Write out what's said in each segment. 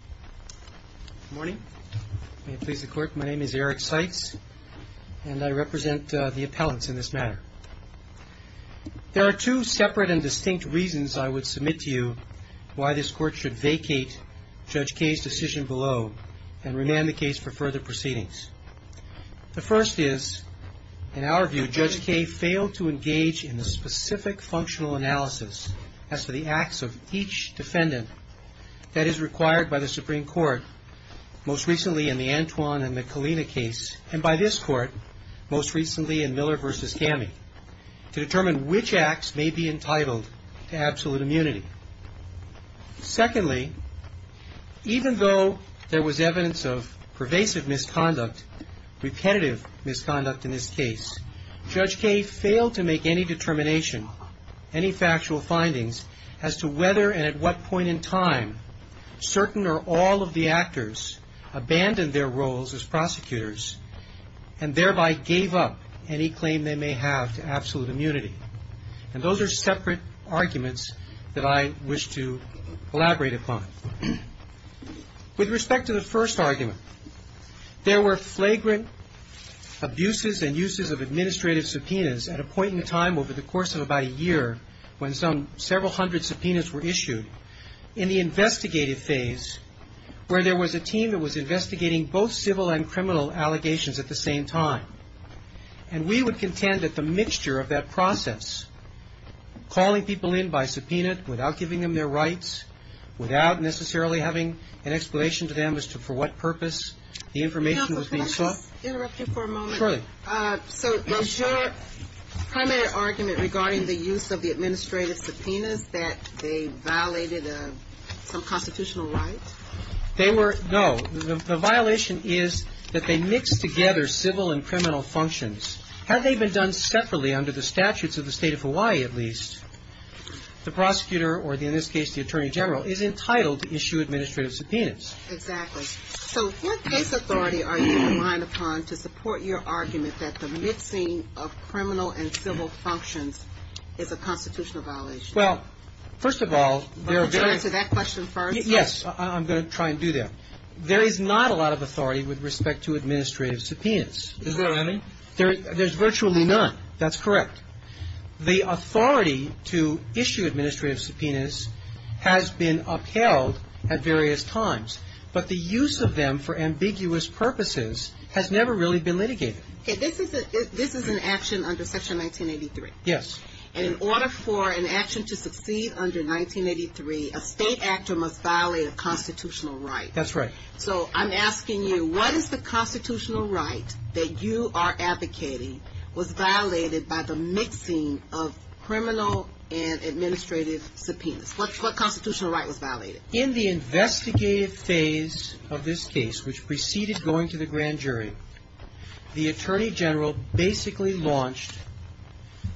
Good morning. May it please the Court, my name is Eric Seitz and I represent the appellants in this matter. There are two separate and distinct reasons I would submit to you why this Court should vacate Judge Kaye's decision below and remand the case for further proceedings. The first is, in our view, Judge Kaye failed to engage in the specific functional analysis as to the acts of each defendant. That is required by the Supreme Court, most recently in the Antoine and McAleena case, and by this Court, most recently in Miller v. Cammey, to determine which acts may be entitled to absolute immunity. Secondly, even though there was evidence of pervasive misconduct, repetitive misconduct in this case, Judge Kaye failed to make any determination, any factual findings, as to whether and at what point in time certain or all of the actors abandoned their roles as prosecutors and thereby gave up any claim they may have to absolute immunity. And those are separate arguments that I wish to elaborate upon. With respect to the first argument, there were flagrant abuses and uses of administrative subpoenas at a point in time over the course of about a year when some several hundred subpoenas were issued in the investigative phase where there was a team that was investigating both civil and criminal allegations at the same time. And we would contend that the mixture of that process, calling people in by subpoena without giving them their rights, without necessarily having an explanation to them as to for what purpose, the information was being sought. Can I just interrupt you for a moment? Surely. So is your primary argument regarding the use of the administrative subpoenas that they violated some constitutional right? They were no. The violation is that they mixed together civil and criminal functions. The prosecutor, or in this case the Attorney General, is entitled to issue administrative subpoenas. Exactly. So what case authority are you relying upon to support your argument that the mixing of criminal and civil functions is a constitutional violation? Well, first of all, there are very – Could you answer that question first? Yes. I'm going to try and do that. There is not a lot of authority with respect to administrative subpoenas. Is there, Emmy? There's virtually none. That's correct. The authority to issue administrative subpoenas has been upheld at various times. But the use of them for ambiguous purposes has never really been litigated. Okay. This is an action under Section 1983. Yes. And in order for an action to succeed under 1983, a state actor must violate a constitutional right. That's right. So I'm asking you, what is the constitutional right that you are advocating was violated by the mixing of criminal and administrative subpoenas? What constitutional right was violated? In the investigative phase of this case, which preceded going to the grand jury, the Attorney General basically launched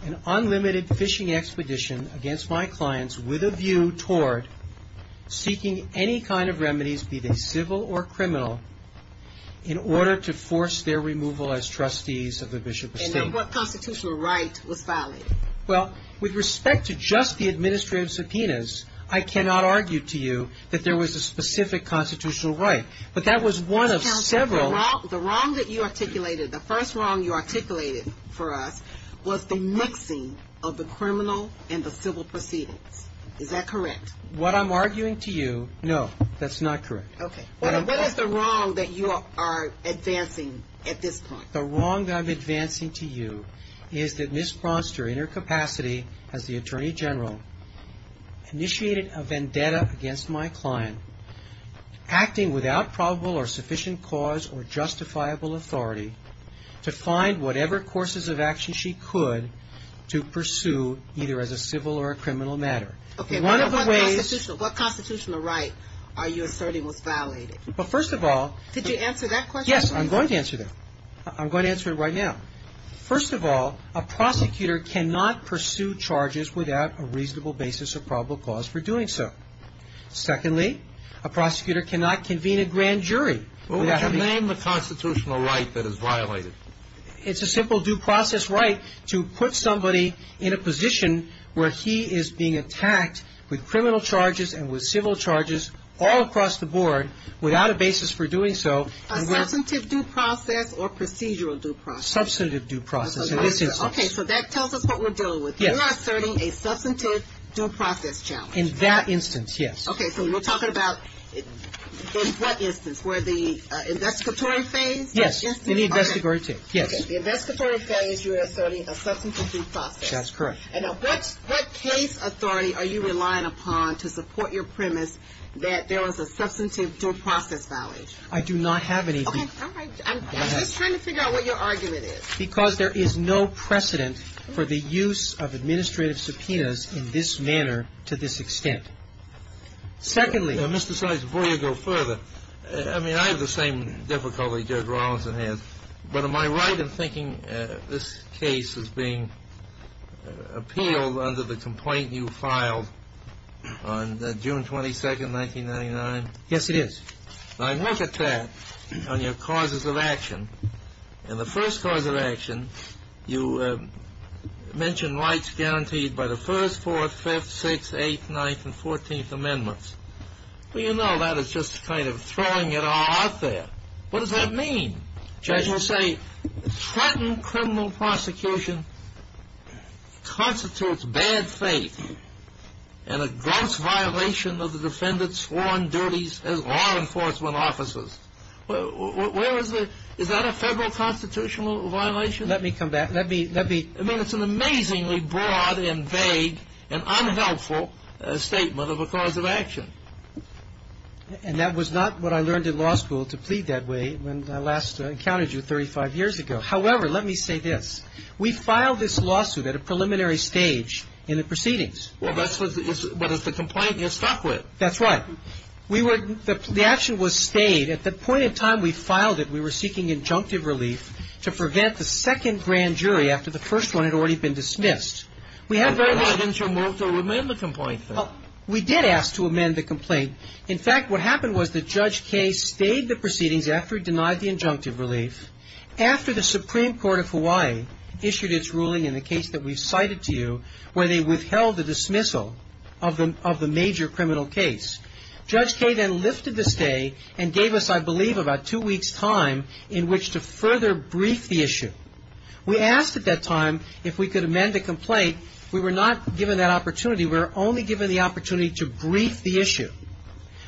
an unlimited fishing expedition against my clients with a view toward seeking any kind of remedies, be they civil or criminal, in order to force their removal as trustees of the Bishop Estate. And then what constitutional right was violated? Well, with respect to just the administrative subpoenas, I cannot argue to you that there was a specific constitutional right. But that was one of several. The wrong that you articulated, the first wrong you articulated for us, was the mixing of the criminal and the civil proceedings. Is that correct? What I'm arguing to you, no, that's not correct. Okay. What is the wrong that you are advancing at this point? The wrong that I'm advancing to you is that Ms. Bronster, in her capacity as the Attorney General, initiated a vendetta against my client, acting without probable or sufficient cause or justifiable authority to find whatever courses of action she could to pursue either as a civil or a criminal matter. Okay. One of the ways. What constitutional right are you asserting was violated? Well, first of all. Did you answer that question? Yes. I'm going to answer that. I'm going to answer it right now. First of all, a prosecutor cannot pursue charges without a reasonable basis of probable cause for doing so. Secondly, a prosecutor cannot convene a grand jury. What would you name the constitutional right that is violated? It's a simple due process right to put somebody in a position where he is being attacked with criminal charges and with civil charges all across the board without a basis for doing so. A substantive due process or procedural due process? Substantive due process in this instance. Okay. So that tells us what we're dealing with. Yes. You're asserting a substantive due process challenge. In that instance, yes. Okay. So we're talking about in what instance? Where the investigatory phase? Yes. Okay. The investigatory phase, you're asserting a substantive due process. That's correct. And what case authority are you relying upon to support your premise that there was a substantive due process violation? I do not have anything. Okay. All right. I'm just trying to figure out what your argument is. Because there is no precedent for the use of administrative subpoenas in this manner to this extent. Secondly. Mr. Seitz, before you go further, I mean, I have the same difficulty Judge Rollinson has. But am I right in thinking this case is being appealed under the complaint you filed on June 22nd, 1999? Yes, it is. Now, I look at that on your causes of action. In the first cause of action, you mention rights guaranteed by the first, fourth, fifth, sixth, eighth, ninth, and fourteenth amendments. Well, you know, that is just kind of throwing it all out there. What does that mean? Judge, you say threatened criminal prosecution constitutes bad faith and a gross violation of the defendant's sworn duties as law enforcement officers. Is that a federal constitutional violation? Let me come back. I mean, it's an amazingly broad and vague and unhelpful statement of a cause of action. And that was not what I learned in law school to plead that way when I last encountered you 35 years ago. However, let me say this. We filed this lawsuit at a preliminary stage in the proceedings. But it's the complaint you're stuck with. That's right. We were the action was stayed. At the point in time we filed it, we were seeking injunctive relief to prevent the second grand jury after the first one had already been dismissed. We had very little. You didn't have to amend the complaint, though. We did ask to amend the complaint. In fact, what happened was that Judge Kaye stayed the proceedings after he denied the injunctive relief. After the Supreme Court of Hawaii issued its ruling in the case that we've cited to you, where they withheld the dismissal of the major criminal case, Judge Kaye then lifted the stay and gave us, I believe, about two weeks' time in which to further brief the issue. We asked at that time if we could amend the complaint. We were not given that opportunity. We were only given the opportunity to brief the issue.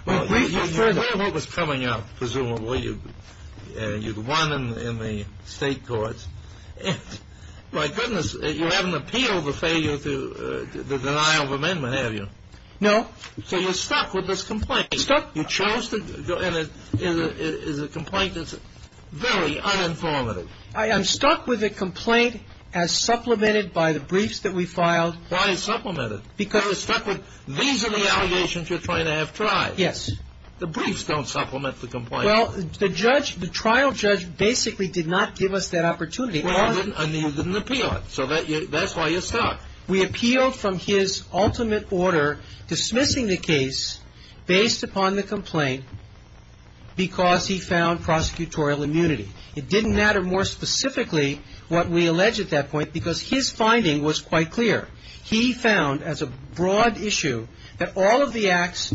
Well, you were aware what was coming up, presumably. You'd won in the state courts. And, my goodness, you haven't appealed the failure to the denial of amendment, have you? No. So you're stuck with this complaint. I'm stuck. You chose to go and it is a complaint that's very uninformative. I'm stuck with a complaint as supplemented by the briefs that we filed. Why supplemented? Because you're stuck with these are the allegations you're trying to have tried. Yes. The briefs don't supplement the complaint. Well, the judge, the trial judge basically did not give us that opportunity. Well, he didn't. I mean, he didn't appeal it. So that's why you're stuck. We appealed from his ultimate order dismissing the case based upon the complaint because he found prosecutorial immunity. It didn't matter more specifically what we alleged at that point because his finding was quite clear. He found as a broad issue that all of the acts,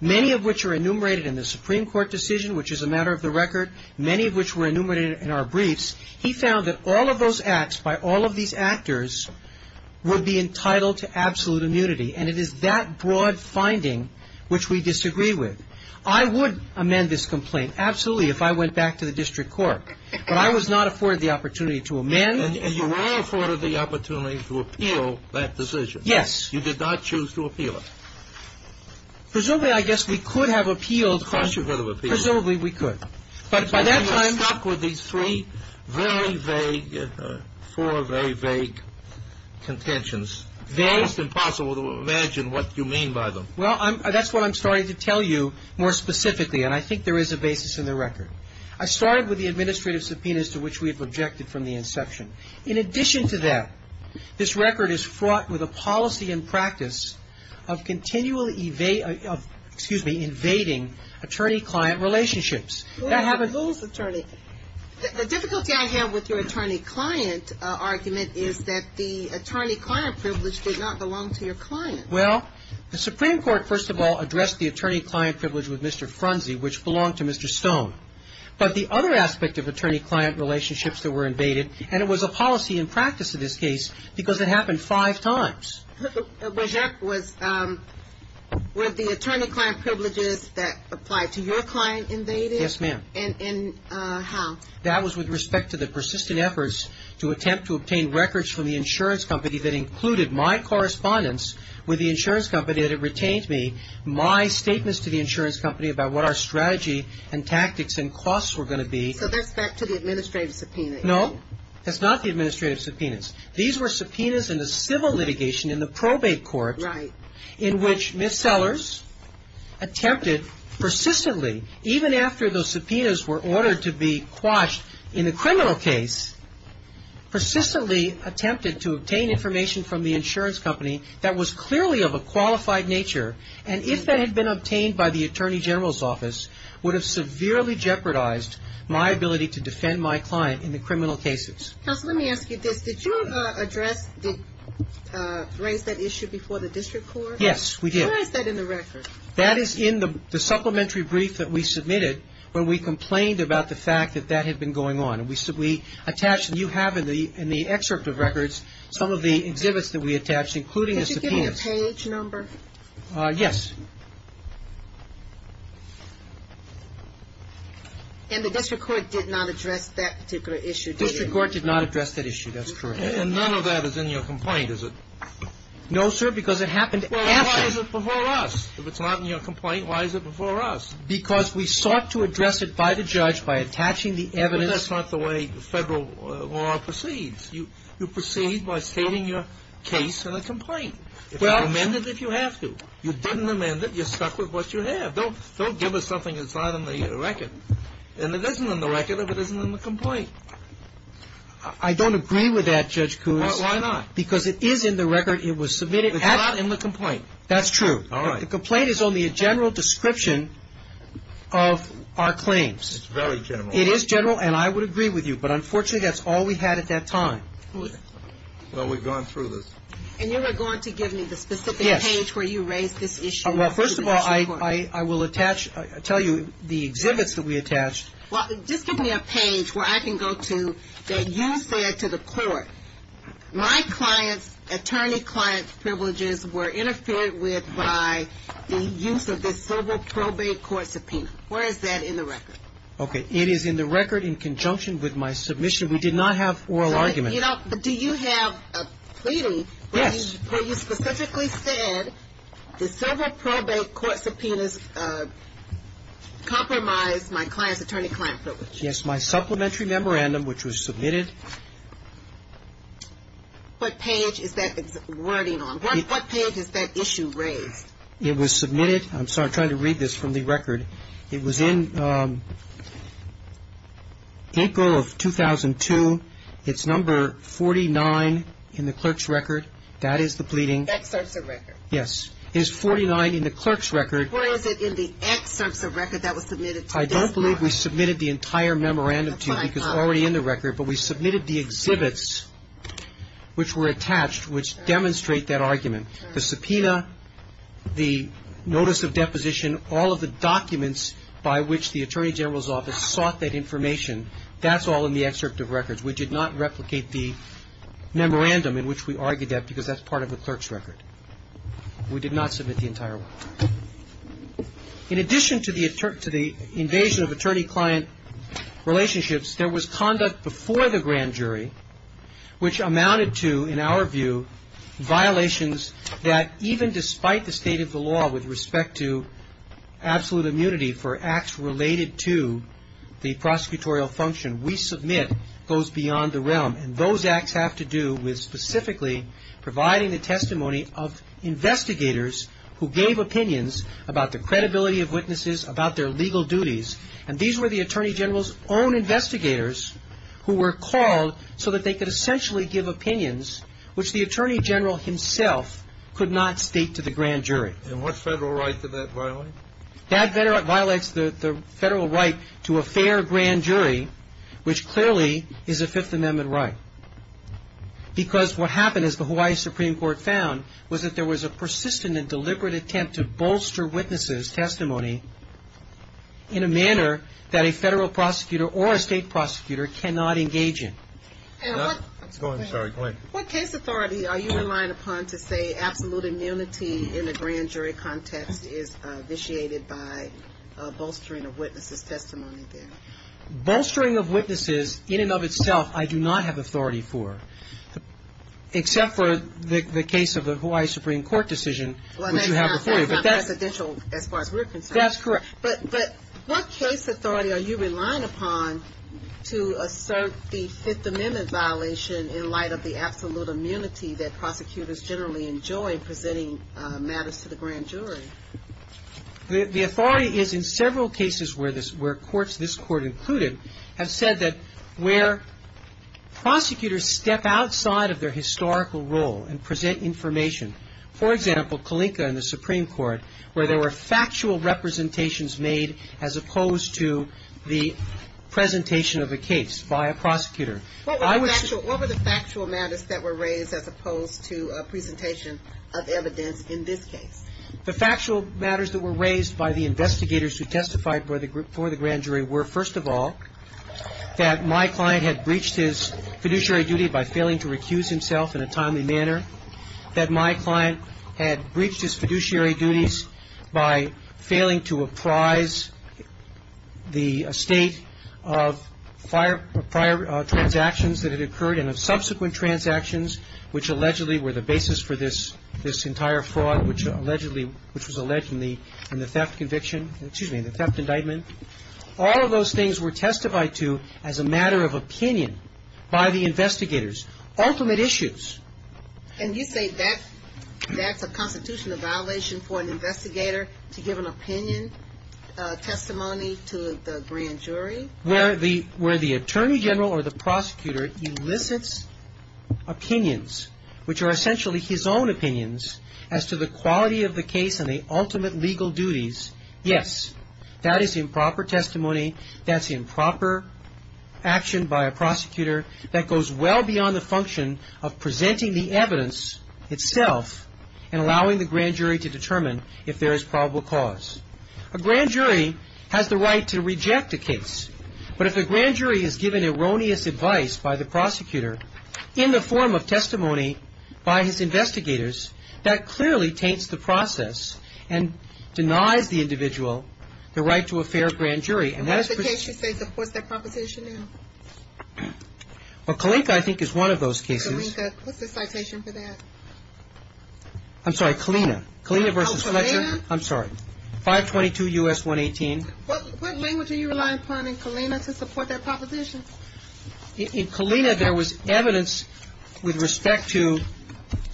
many of which are enumerated in the Supreme Court decision, which is a matter of the record, many of which were enumerated in our briefs, he found that all of those acts by all of these actors would be entitled to absolute immunity and it is that broad finding which we disagree with. I would amend this complaint absolutely if I went back to the district court. But I was not afforded the opportunity to amend. And you were afforded the opportunity to appeal that decision. Yes. You did not choose to appeal it. Presumably I guess we could have appealed. Of course you could have appealed it. Presumably we could. But by that time You were stuck with these three very vague, four very vague contentions. It's almost impossible to imagine what you mean by them. Well, that's what I'm starting to tell you more specifically. And I think there is a basis in the record. I started with the administrative subpoenas to which we have objected from the inception. In addition to that, this record is fraught with a policy and practice of continually, excuse me, invading attorney-client relationships. The difficulty I have with your attorney-client argument is that the attorney-client privilege did not belong to your client. Well, the Supreme Court, first of all, addressed the attorney-client privilege with Mr. Frunze, which belonged to Mr. Stone. But the other aspect of attorney-client relationships that were invaded, and it was a policy and practice in this case because it happened five times. Was that the attorney-client privileges that applied to your client invaded? Yes, ma'am. And how? That was with respect to the persistent efforts to attempt to obtain records from the insurance company that included my correspondence with the insurance company that it retained me, my statements to the insurance company about what our strategy and tactics and costs were going to be. So that's back to the administrative subpoenas. No. That's not the administrative subpoenas. These were subpoenas in the civil litigation in the probate court. Right. In which missellers attempted persistently, even after those subpoenas were ordered to be quashed in the criminal case, persistently attempted to obtain information from the insurance company that was clearly of a qualified nature. And if that had been obtained by the Attorney General's Office, would have severely jeopardized my ability to defend my client in the criminal cases. Counsel, let me ask you this. Did you address, raise that issue before the district court? Yes, we did. Where is that in the record? That is in the supplementary brief that we submitted when we complained about the fact that that had been going on. And we attached, and you have in the excerpt of records, some of the exhibits that we attached, including a subpoena. Could you give me a page number? Yes. And the district court did not address that particular issue, did it? The district court did not address that issue. That's correct. And none of that is in your complaint, is it? No, sir, because it happened after. Well, why is it before us? If it's not in your complaint, why is it before us? Because we sought to address it by the judge by attaching the evidence. But that's not the way Federal law proceeds. You proceed by stating your case in a complaint. Well. You amend it if you have to. You didn't amend it. You're stuck with what you have. Don't give us something that's not in the record. And it isn't in the record if it isn't in the complaint. I don't agree with that, Judge Coons. Why not? Because it is in the record. It was submitted at. It's not in the complaint. That's true. All right. The complaint is only a general description of our claims. It's very general. It is general, and I would agree with you. But unfortunately, that's all we had at that time. Well, we've gone through this. And you were going to give me the specific page where you raised this issue. Well, first of all, I will attach, tell you the exhibits that we attached. Well, just give me a page where I can go to that you said to the court, my client's, attorney client's privileges were interfered with by the use of this civil probate court subpoena. Where is that in the record? Okay. It is in the record in conjunction with my submission. We did not have oral argument. But do you have a pleading. Yes. Well, you specifically said the civil probate court subpoenas compromised my client's attorney client privilege. Yes. My supplementary memorandum, which was submitted. What page is that wording on? What page is that issue raised? It was submitted. I'm sorry. I'm trying to read this from the record. It was in April of 2002. It's number 49 in the clerk's record. That is the pleading. Excerpts of record. Yes. It is 49 in the clerk's record. Where is it in the excerpts of record that was submitted to this court? I don't believe we submitted the entire memorandum to you because it's already in the record. But we submitted the exhibits which were attached, which demonstrate that argument. The subpoena, the notice of deposition, all of the documents by which the attorney general's office sought that information, that's all in the excerpt of records. We did not replicate the memorandum in which we argued that because that's part of the clerk's record. We did not submit the entire one. In addition to the invasion of attorney-client relationships, there was conduct before the grand jury which amounted to, in our view, violations that even despite the state of the law with respect to absolute immunity for acts related to the prosecutorial function, we submit goes beyond the realm. And those acts have to do with specifically providing the testimony of investigators who gave opinions about the credibility of witnesses, about their legal duties. And these were the attorney general's own investigators who were called so that they could essentially give opinions which the attorney general himself could not state to the grand jury. And what federal right did that violate? That violates the federal right to a fair grand jury, which clearly is a Fifth Amendment right. Because what happened, as the Hawaii Supreme Court found, was that there was a persistent and deliberate attempt to bolster witnesses' testimony in a manner that a federal prosecutor or a state prosecutor cannot engage in. I'm sorry, go ahead. What case authority are you relying upon to say absolute immunity in a grand jury context is vitiated by bolstering of witnesses' testimony there? Bolstering of witnesses, in and of itself, I do not have authority for, except for the case of the Hawaii Supreme Court decision which you have before you. Well, that's not presidential as far as we're concerned. That's correct. But what case authority are you relying upon to assert the Fifth Amendment violation in light of the absolute immunity that prosecutors generally enjoy presenting matters to the grand jury? The authority is in several cases where courts, this Court included, have said that where prosecutors step outside of their historical role and present information, for example, Kalinka in the Supreme Court, where there were factual representations made as opposed to the presentation of a case by a prosecutor. What were the factual matters that were raised as opposed to a presentation of evidence in this case? The factual matters that were raised by the investigators who testified for the grand jury were, first of all, that my client had breached his fiduciary duty by failing to recuse himself in a timely manner, that my client had breached his fiduciary duties by failing to apprise the State of prior transactions that had occurred and of subsequent transactions which allegedly were the basis for this entire fraud, which allegedly, which was alleged in the theft conviction, excuse me, in the theft indictment. All of those things were testified to as a matter of opinion by the investigators. And you say that that's a constitutional violation for an investigator to give an opinion testimony to the grand jury? Where the Attorney General or the prosecutor elicits opinions, which are essentially his own opinions, as to the quality of the case and the ultimate legal duties, yes, that is improper testimony, that's improper action by a prosecutor that goes well beyond the function of presenting the evidence itself and allowing the grand jury to determine if there is probable cause. A grand jury has the right to reject a case, but if a grand jury is given erroneous advice by the prosecutor in the form of testimony by his investigators, that clearly taints the process and denies the individual the right to a fair grand jury. And that is the case you say supports that proposition now? Well, Kalinka, I think, is one of those cases. Kalinka, what's the citation for that? I'm sorry, Kalina. Kalina versus Fletcher. Oh, Kalina? I'm sorry. 522 U.S. 118. What language are you relying upon in Kalina to support that proposition? In Kalina, there was evidence with respect to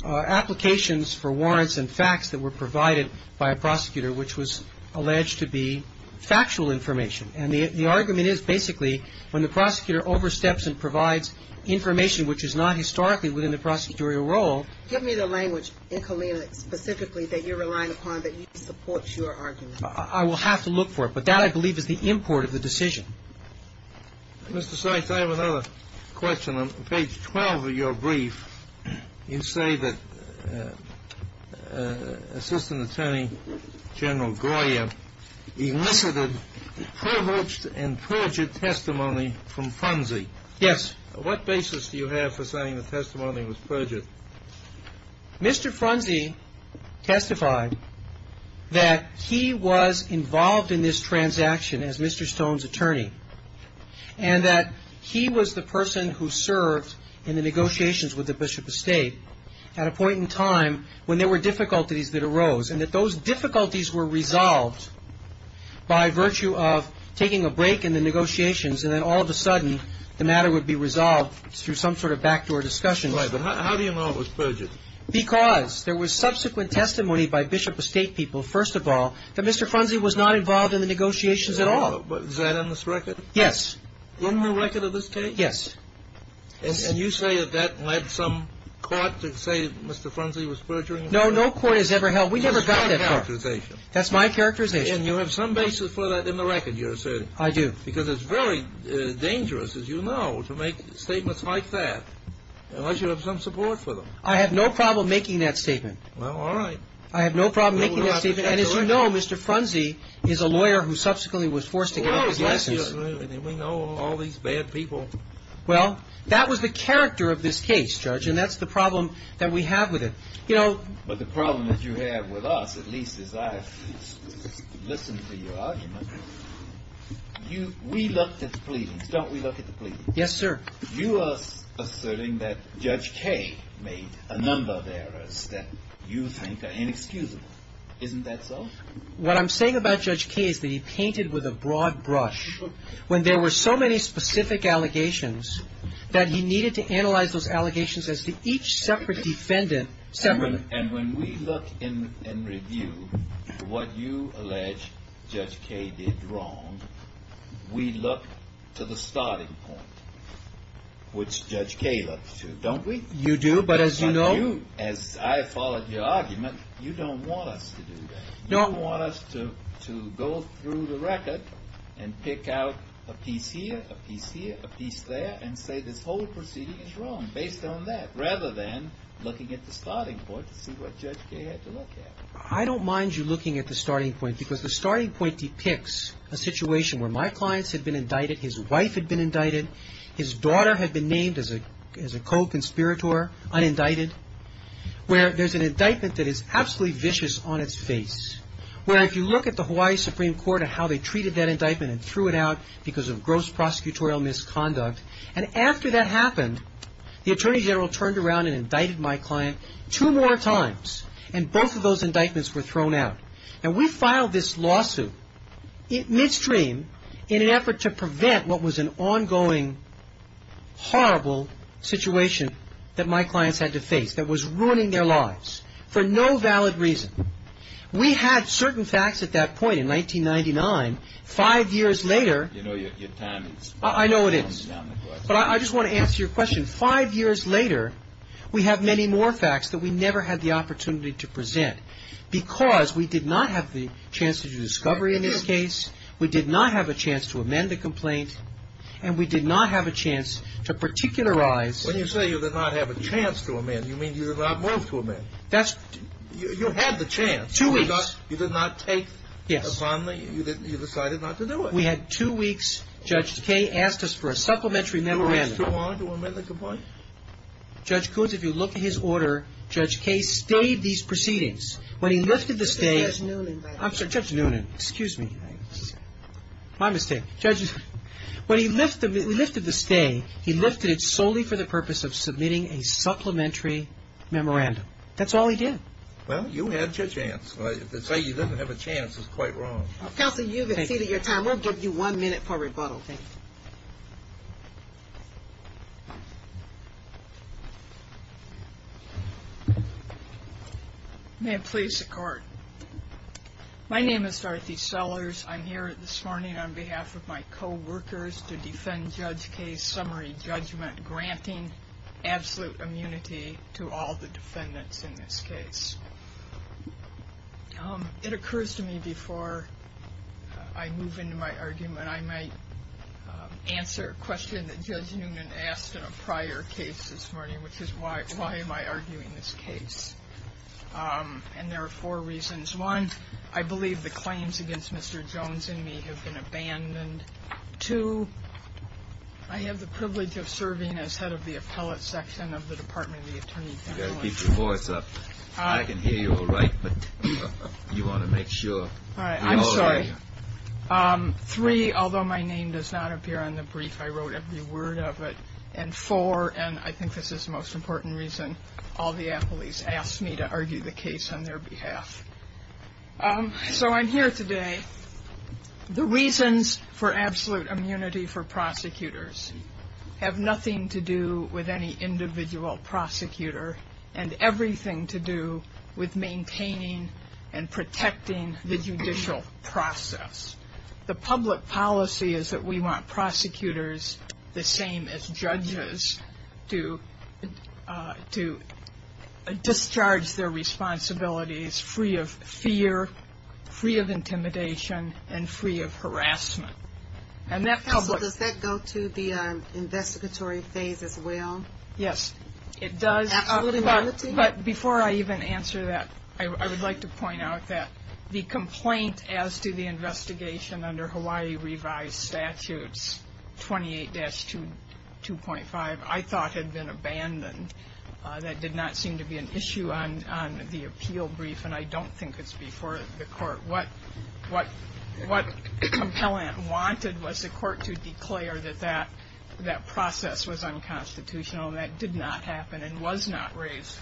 applications for warrants and facts that were provided by a prosecutor, which was alleged to be factual information. And the argument is basically when the prosecutor oversteps and provides information which is not historically within the prosecutorial role. Give me the language in Kalina specifically that you're relying upon that supports your argument. I will have to look for it. But that, I believe, is the import of the decision. Mr. Seitz, I have another question. On page 12 of your brief, you say that Assistant Attorney General Goyer elicited privileged and perjured testimony from Frenzy. Yes. What basis do you have for saying the testimony was perjured? Mr. Frenzy testified that he was involved in this transaction as Mr. Stone's attorney and that he was the person who served in the negotiations with the Bishop of State at a point in time when there were difficulties that arose, and that those difficulties were resolved by virtue of taking a break in the negotiations and then all of a sudden the matter would be resolved through some sort of backdoor discussion. Right. But how do you know it was perjured? Because there was subsequent testimony by Bishop of State people, first of all, that Mr. Frenzy was not involved in the negotiations at all. Is that in this record? Yes. In the record of this case? Yes. And you say that that led some court to say Mr. Frenzy was perjuring? No, no court has ever held. We never got that far. That's your characterization. That's my characterization. And you have some basis for that in the record, you're asserting. I do. Because it's very dangerous, as you know, to make statements like that unless you have some support for them. I have no problem making that statement. Well, all right. I have no problem making that statement. And as you know, Mr. Frenzy is a lawyer who subsequently was forced to give up his license. Oh, yes. And we know all these bad people. Well, that was the character of this case, Judge, and that's the problem that we have with it. You know. But the problem that you have with us, at least as I've listened to your argument, we looked at the pleadings. Don't we look at the pleadings? Yes, sir. You are asserting that Judge Kaye made a number of errors that you think are inexcusable. Isn't that so? What I'm saying about Judge Kaye is that he painted with a broad brush when there were so many specific allegations that he needed to analyze those allegations as to each separate defendant separately. And when we look and review what you allege Judge Kaye did wrong, we look to the starting point, which Judge Kaye looks to. Don't we? You do, but as you know. As I followed your argument, you don't want us to do that. You want us to go through the record and pick out a piece here, a piece here, a piece there, and say this whole proceeding is wrong based on that rather than looking at the starting point to see what Judge Kaye had to look at. I don't mind you looking at the starting point because the starting point depicts a situation where my clients had been indicted, his wife had been indicted, his daughter had been named as a co-conspirator, unindicted, where there's an indictment that is absolutely vicious on its face, where if you look at the Hawaii Supreme Court and how they treated that indictment and threw it out because of gross prosecutorial misconduct. And after that happened, the Attorney General turned around and indicted my client two more times, and both of those indictments were thrown out. And we filed this lawsuit midstream in an effort to prevent what was an ongoing, horrible situation that my clients had to face that was ruining their lives for no valid reason. We had certain facts at that point in 1999. Five years later... You know, your time is... I know it is, but I just want to answer your question. Five years later, we have many more facts that we never had the opportunity to present because we did not have the chance to do discovery in this case, we did not have a chance to amend the complaint, and we did not have a chance to particularize... When you say you did not have a chance to amend, you mean you did not want to amend. That's... You had the chance. Two weeks. You did not take a bond? Yes. You decided not to do it. We had two weeks. Judge Kaye asked us for a supplementary memorandum. You asked too long to amend the complaint? Judge Koontz, if you look at his order, Judge Kaye stayed these proceedings. When he lifted the stay... This is Judge Noonan. I'm sorry. Judge Noonan. Excuse me. My mistake. When he lifted the stay, he lifted it solely for the purpose of submitting a supplementary memorandum. That's all he did. Well, you had your chance. To say you didn't have a chance is quite wrong. Counsel, you've exceeded your time. We'll give you one minute for rebuttal. Thank you. May it please the Court. My name is Dorothy Sellers. I'm here this morning on behalf of my coworkers to defend Judge Kaye's summary judgment granting absolute immunity to all the defendants in this case. It occurs to me before I move into my argument, I might answer a question that Judge Noonan asked in a prior case this morning, which is why am I arguing this case. And there are four reasons. One, I believe the claims against Mr. Jones and me have been abandoned. Two, I have the privilege of serving as head of the appellate section of the Department of the Attorney General. You've got to keep your voice up. I can hear you all right, but you want to make sure we're all hearing you. I'm sorry. Three, although my name does not appear on the brief, I wrote every word of it. And four, and I think this is the most important reason, all the appellees asked me to argue the case on their behalf. So I'm here today. The reasons for absolute immunity for prosecutors have nothing to do with any individual prosecutor and everything to do with maintaining and protecting the judicial process. The public policy is that we want prosecutors, the same as judges, to discharge their responsibilities free of fear, free of intimidation, and free of harassment. Counsel, does that go to the investigatory phase as well? Yes, it does. But before I even answer that, I would like to point out that the complaint as to the investigation under Hawaii revised statutes 28-2.5, I thought had been abandoned. That did not seem to be an issue on the appeal brief, and I don't think it's before the court. What the appellant wanted was the court to declare that that process was unconstitutional, and that did not happen and was not raised.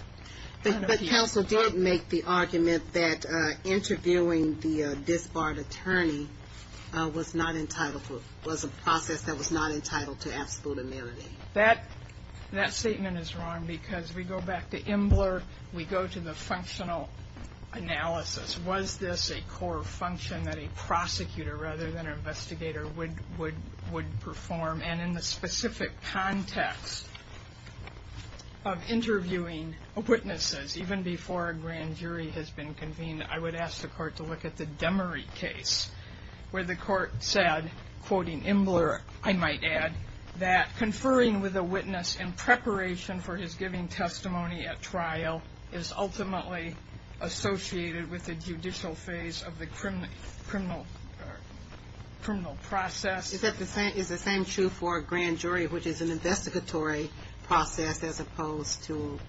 But counsel did make the argument that interviewing the disbarred attorney was not entitled, was a process that was not entitled to absolute immunity. That statement is wrong because we go back to Imbler, we go to the functional analysis. Was this a core function that a prosecutor rather than an investigator would perform? And in the specific context of interviewing witnesses, even before a grand jury has been convened, I would ask the court to look at the Demery case where the court said, quoting Imbler, I might add, that conferring with a witness in preparation for his giving testimony at trial is ultimately associated with the judicial phase of the criminal process. Is the same true for a grand jury, which is an investigatory process as opposed to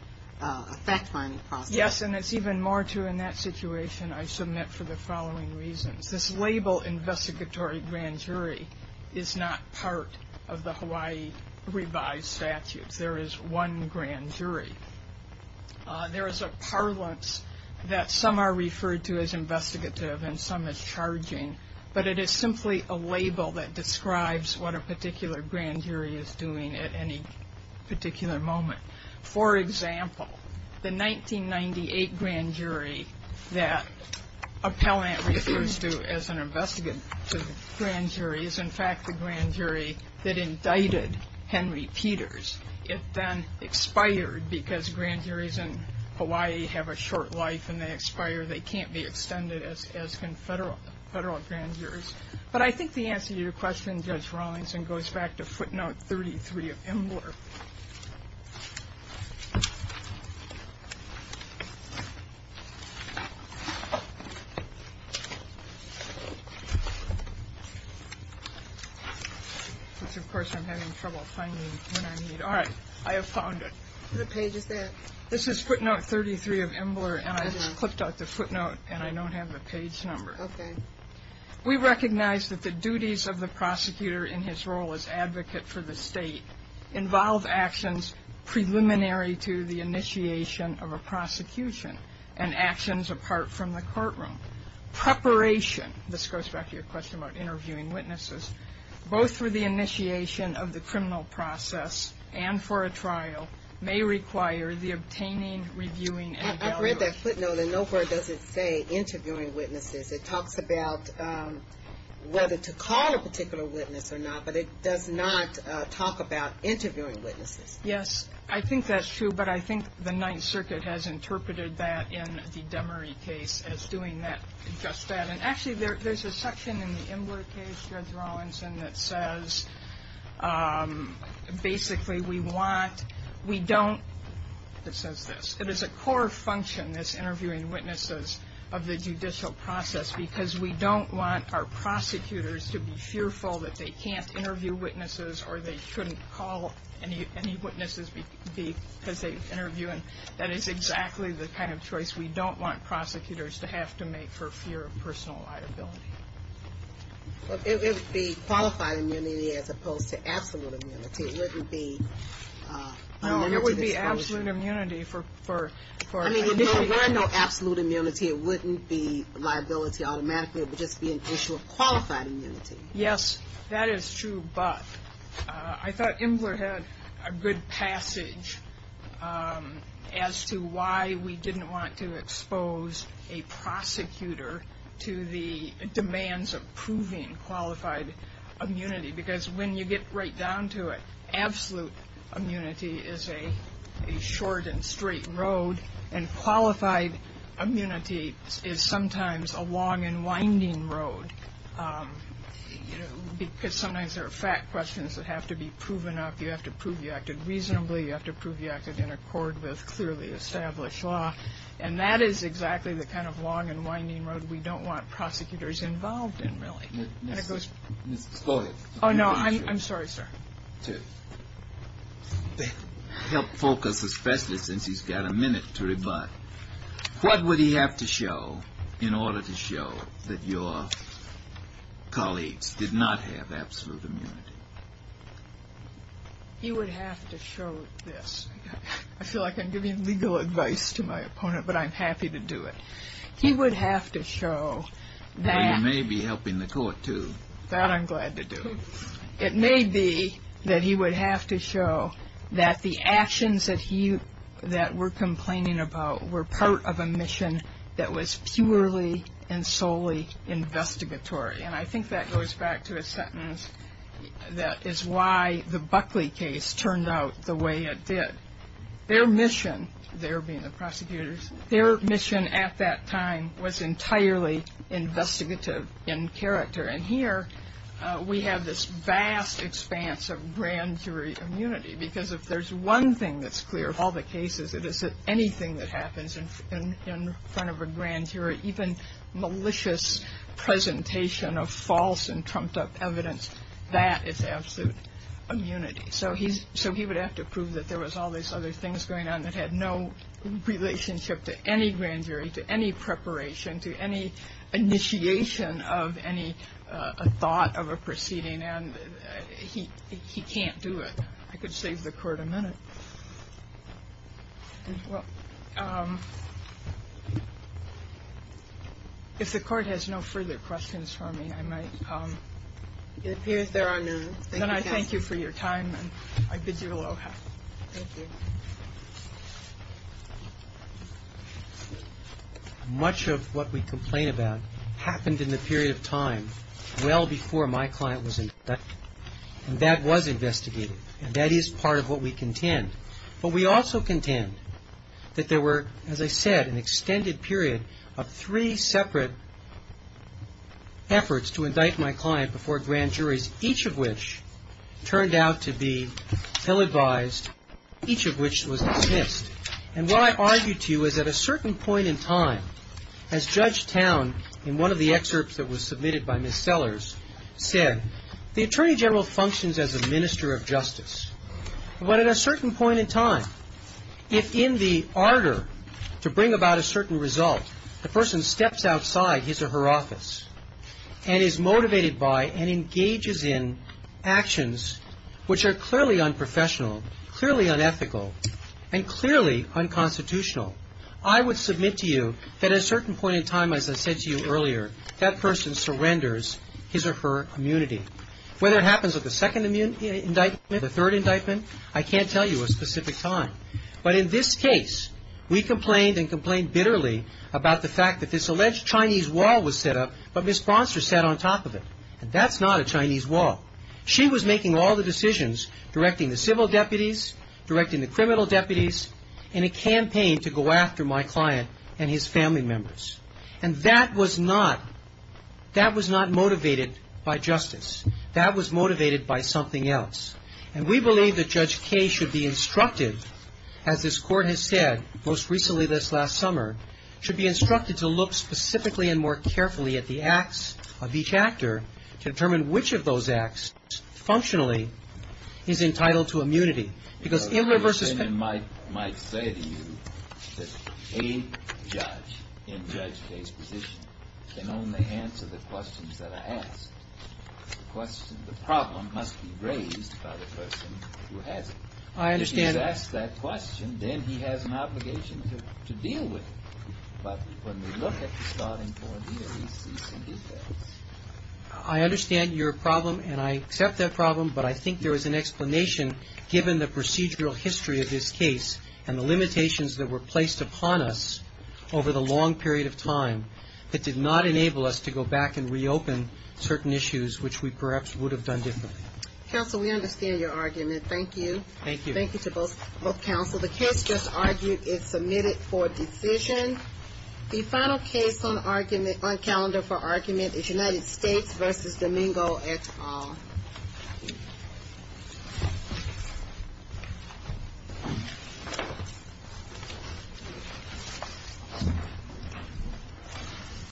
a fact-finding process? Yes, and it's even more true in that situation, I submit, for the following reasons. This label, investigatory grand jury, is not part of the Hawaii revised statutes. There is one grand jury. There is a parlance that some are referred to as investigative and some as charging, but it is simply a label that describes what a particular grand jury is doing at any particular moment. For example, the 1998 grand jury that appellant refers to as an investigative grand jury is in fact the grand jury that indicted Henry Peters. It then expired because grand juries in Hawaii have a short life and they expire. They can't be extended as can federal grand juries. But I think the answer to your question, Judge Rawlings, goes back to footnote 33 of Imbler. Which, of course, I'm having trouble finding when I need it. All right, I have found it. The page is there. This is footnote 33 of Imbler, and I've clipped out the footnote and I don't have the page number. Okay. We recognize that the duties of the prosecutor in his role as advocate for the state involve actions preliminary to the initiation of a prosecution and actions apart from the courtroom. Preparation, this goes back to your question about interviewing witnesses, both for the initiation of the criminal process and for a trial may require the obtaining, reviewing, and evaluation. I've read that footnote and nowhere does it say interviewing witnesses. It talks about whether to call a particular witness or not, but it does not talk about interviewing witnesses. Yes, I think that's true, but I think the Ninth Circuit has interpreted that in the Demery case as doing just that. Actually, there's a section in the Imbler case, Judge Rawlinson, that says basically we want, we don't, it says this, it is a core function, this interviewing witnesses of the judicial process, because we don't want our prosecutors to be fearful that they can't interview witnesses or they shouldn't call any witnesses because they're interviewing. And that is exactly the kind of choice we don't want prosecutors to have to make for fear of personal liability. It would be qualified immunity as opposed to absolute immunity. It wouldn't be immunity to disclosure. No, it would be absolute immunity for additional. I mean, if there were no absolute immunity, it wouldn't be liability automatically. It would just be an issue of qualified immunity. Yes, that is true, but I thought Imbler had a good passage. As to why we didn't want to expose a prosecutor to the demands of proving qualified immunity, because when you get right down to it, absolute immunity is a short and straight road, and qualified immunity is sometimes a long and winding road, because sometimes there are fact questions that have to be proven up. You have to prove you acted reasonably. You have to prove you acted in accord with clearly established law. And that is exactly the kind of long and winding road we don't want prosecutors involved in, really. Go ahead. Oh, no, I'm sorry, sir. To help focus, especially since he's got a minute to rebut, what would he have to show in order to show that your colleagues did not have absolute immunity? He would have to show this. I feel like I'm giving legal advice to my opponent, but I'm happy to do it. He would have to show that... Well, you may be helping the court, too. That I'm glad to do. It may be that he would have to show that the actions that we're complaining about were part of a mission that was purely and solely investigatory. And I think that goes back to a sentence that is why the Buckley case turned out the way it did. Their mission, their being the prosecutors, their mission at that time was entirely investigative in character. And here we have this vast expanse of grand jury immunity because if there's one thing that's clear of all the cases, it is that anything that happens in front of a grand jury, even malicious presentation of false and trumped-up evidence, that is absolute immunity. So he would have to prove that there was all these other things going on that had no relationship to any grand jury, to any preparation, to any initiation of any thought of a proceeding. And he can't do it. I could save the court a minute. If the court has no further questions for me, I might... It appears there are no. Then I thank you for your time, and I bid you aloha. Thank you. Much of what we complain about happened in the period of time well before my client was indicted. And that was investigated, and that is part of what we contend. But we also contend that there were, as I said, an extended period of three separate efforts to indict my client before grand juries, each of which turned out to be ill-advised, each of which was dismissed. And what I argue to you is at a certain point in time, as Judge Towne in one of the excerpts that was submitted by Ms. Sellers said, the Attorney General functions as a minister of justice. But at a certain point in time, if in the ardor to bring about a certain result, the person steps outside his or her office and is motivated by and engages in actions which are clearly unprofessional, clearly unethical, and clearly unconstitutional, I would submit to you that at a certain point in time, as I said to you earlier, that person surrenders his or her immunity. Whether it happens at the second indictment, the third indictment, I can't tell you a specific time. But in this case, we complained and complained bitterly about the fact that this alleged Chinese wall was set up, but Ms. Bronster sat on top of it. And that's not a Chinese wall. She was making all the decisions, directing the civil deputies, directing the criminal deputies, in a campaign to go after my client and his family members. And that was not motivated by justice. That was motivated by something else. And we believe that Judge Kaye should be instructed, as this Court has said most recently this last summer, should be instructed to look specifically and more carefully at the acts of each actor to determine which of those acts, functionally, is entitled to immunity. Because in reverse of that ---- I understand your problem, and I accept that problem, but I think there is an explanation, given the procedural history of this case and the limitations that were placed upon us over the long period of time, that did not enable us to go back and reopen certain issues which we perhaps would have done differently. Counsel, we understand your argument. Thank you. Thank you. Thank you to both counsel. The case just argued is submitted for decision. The final case on calendar for argument is United States v. Domingo et al.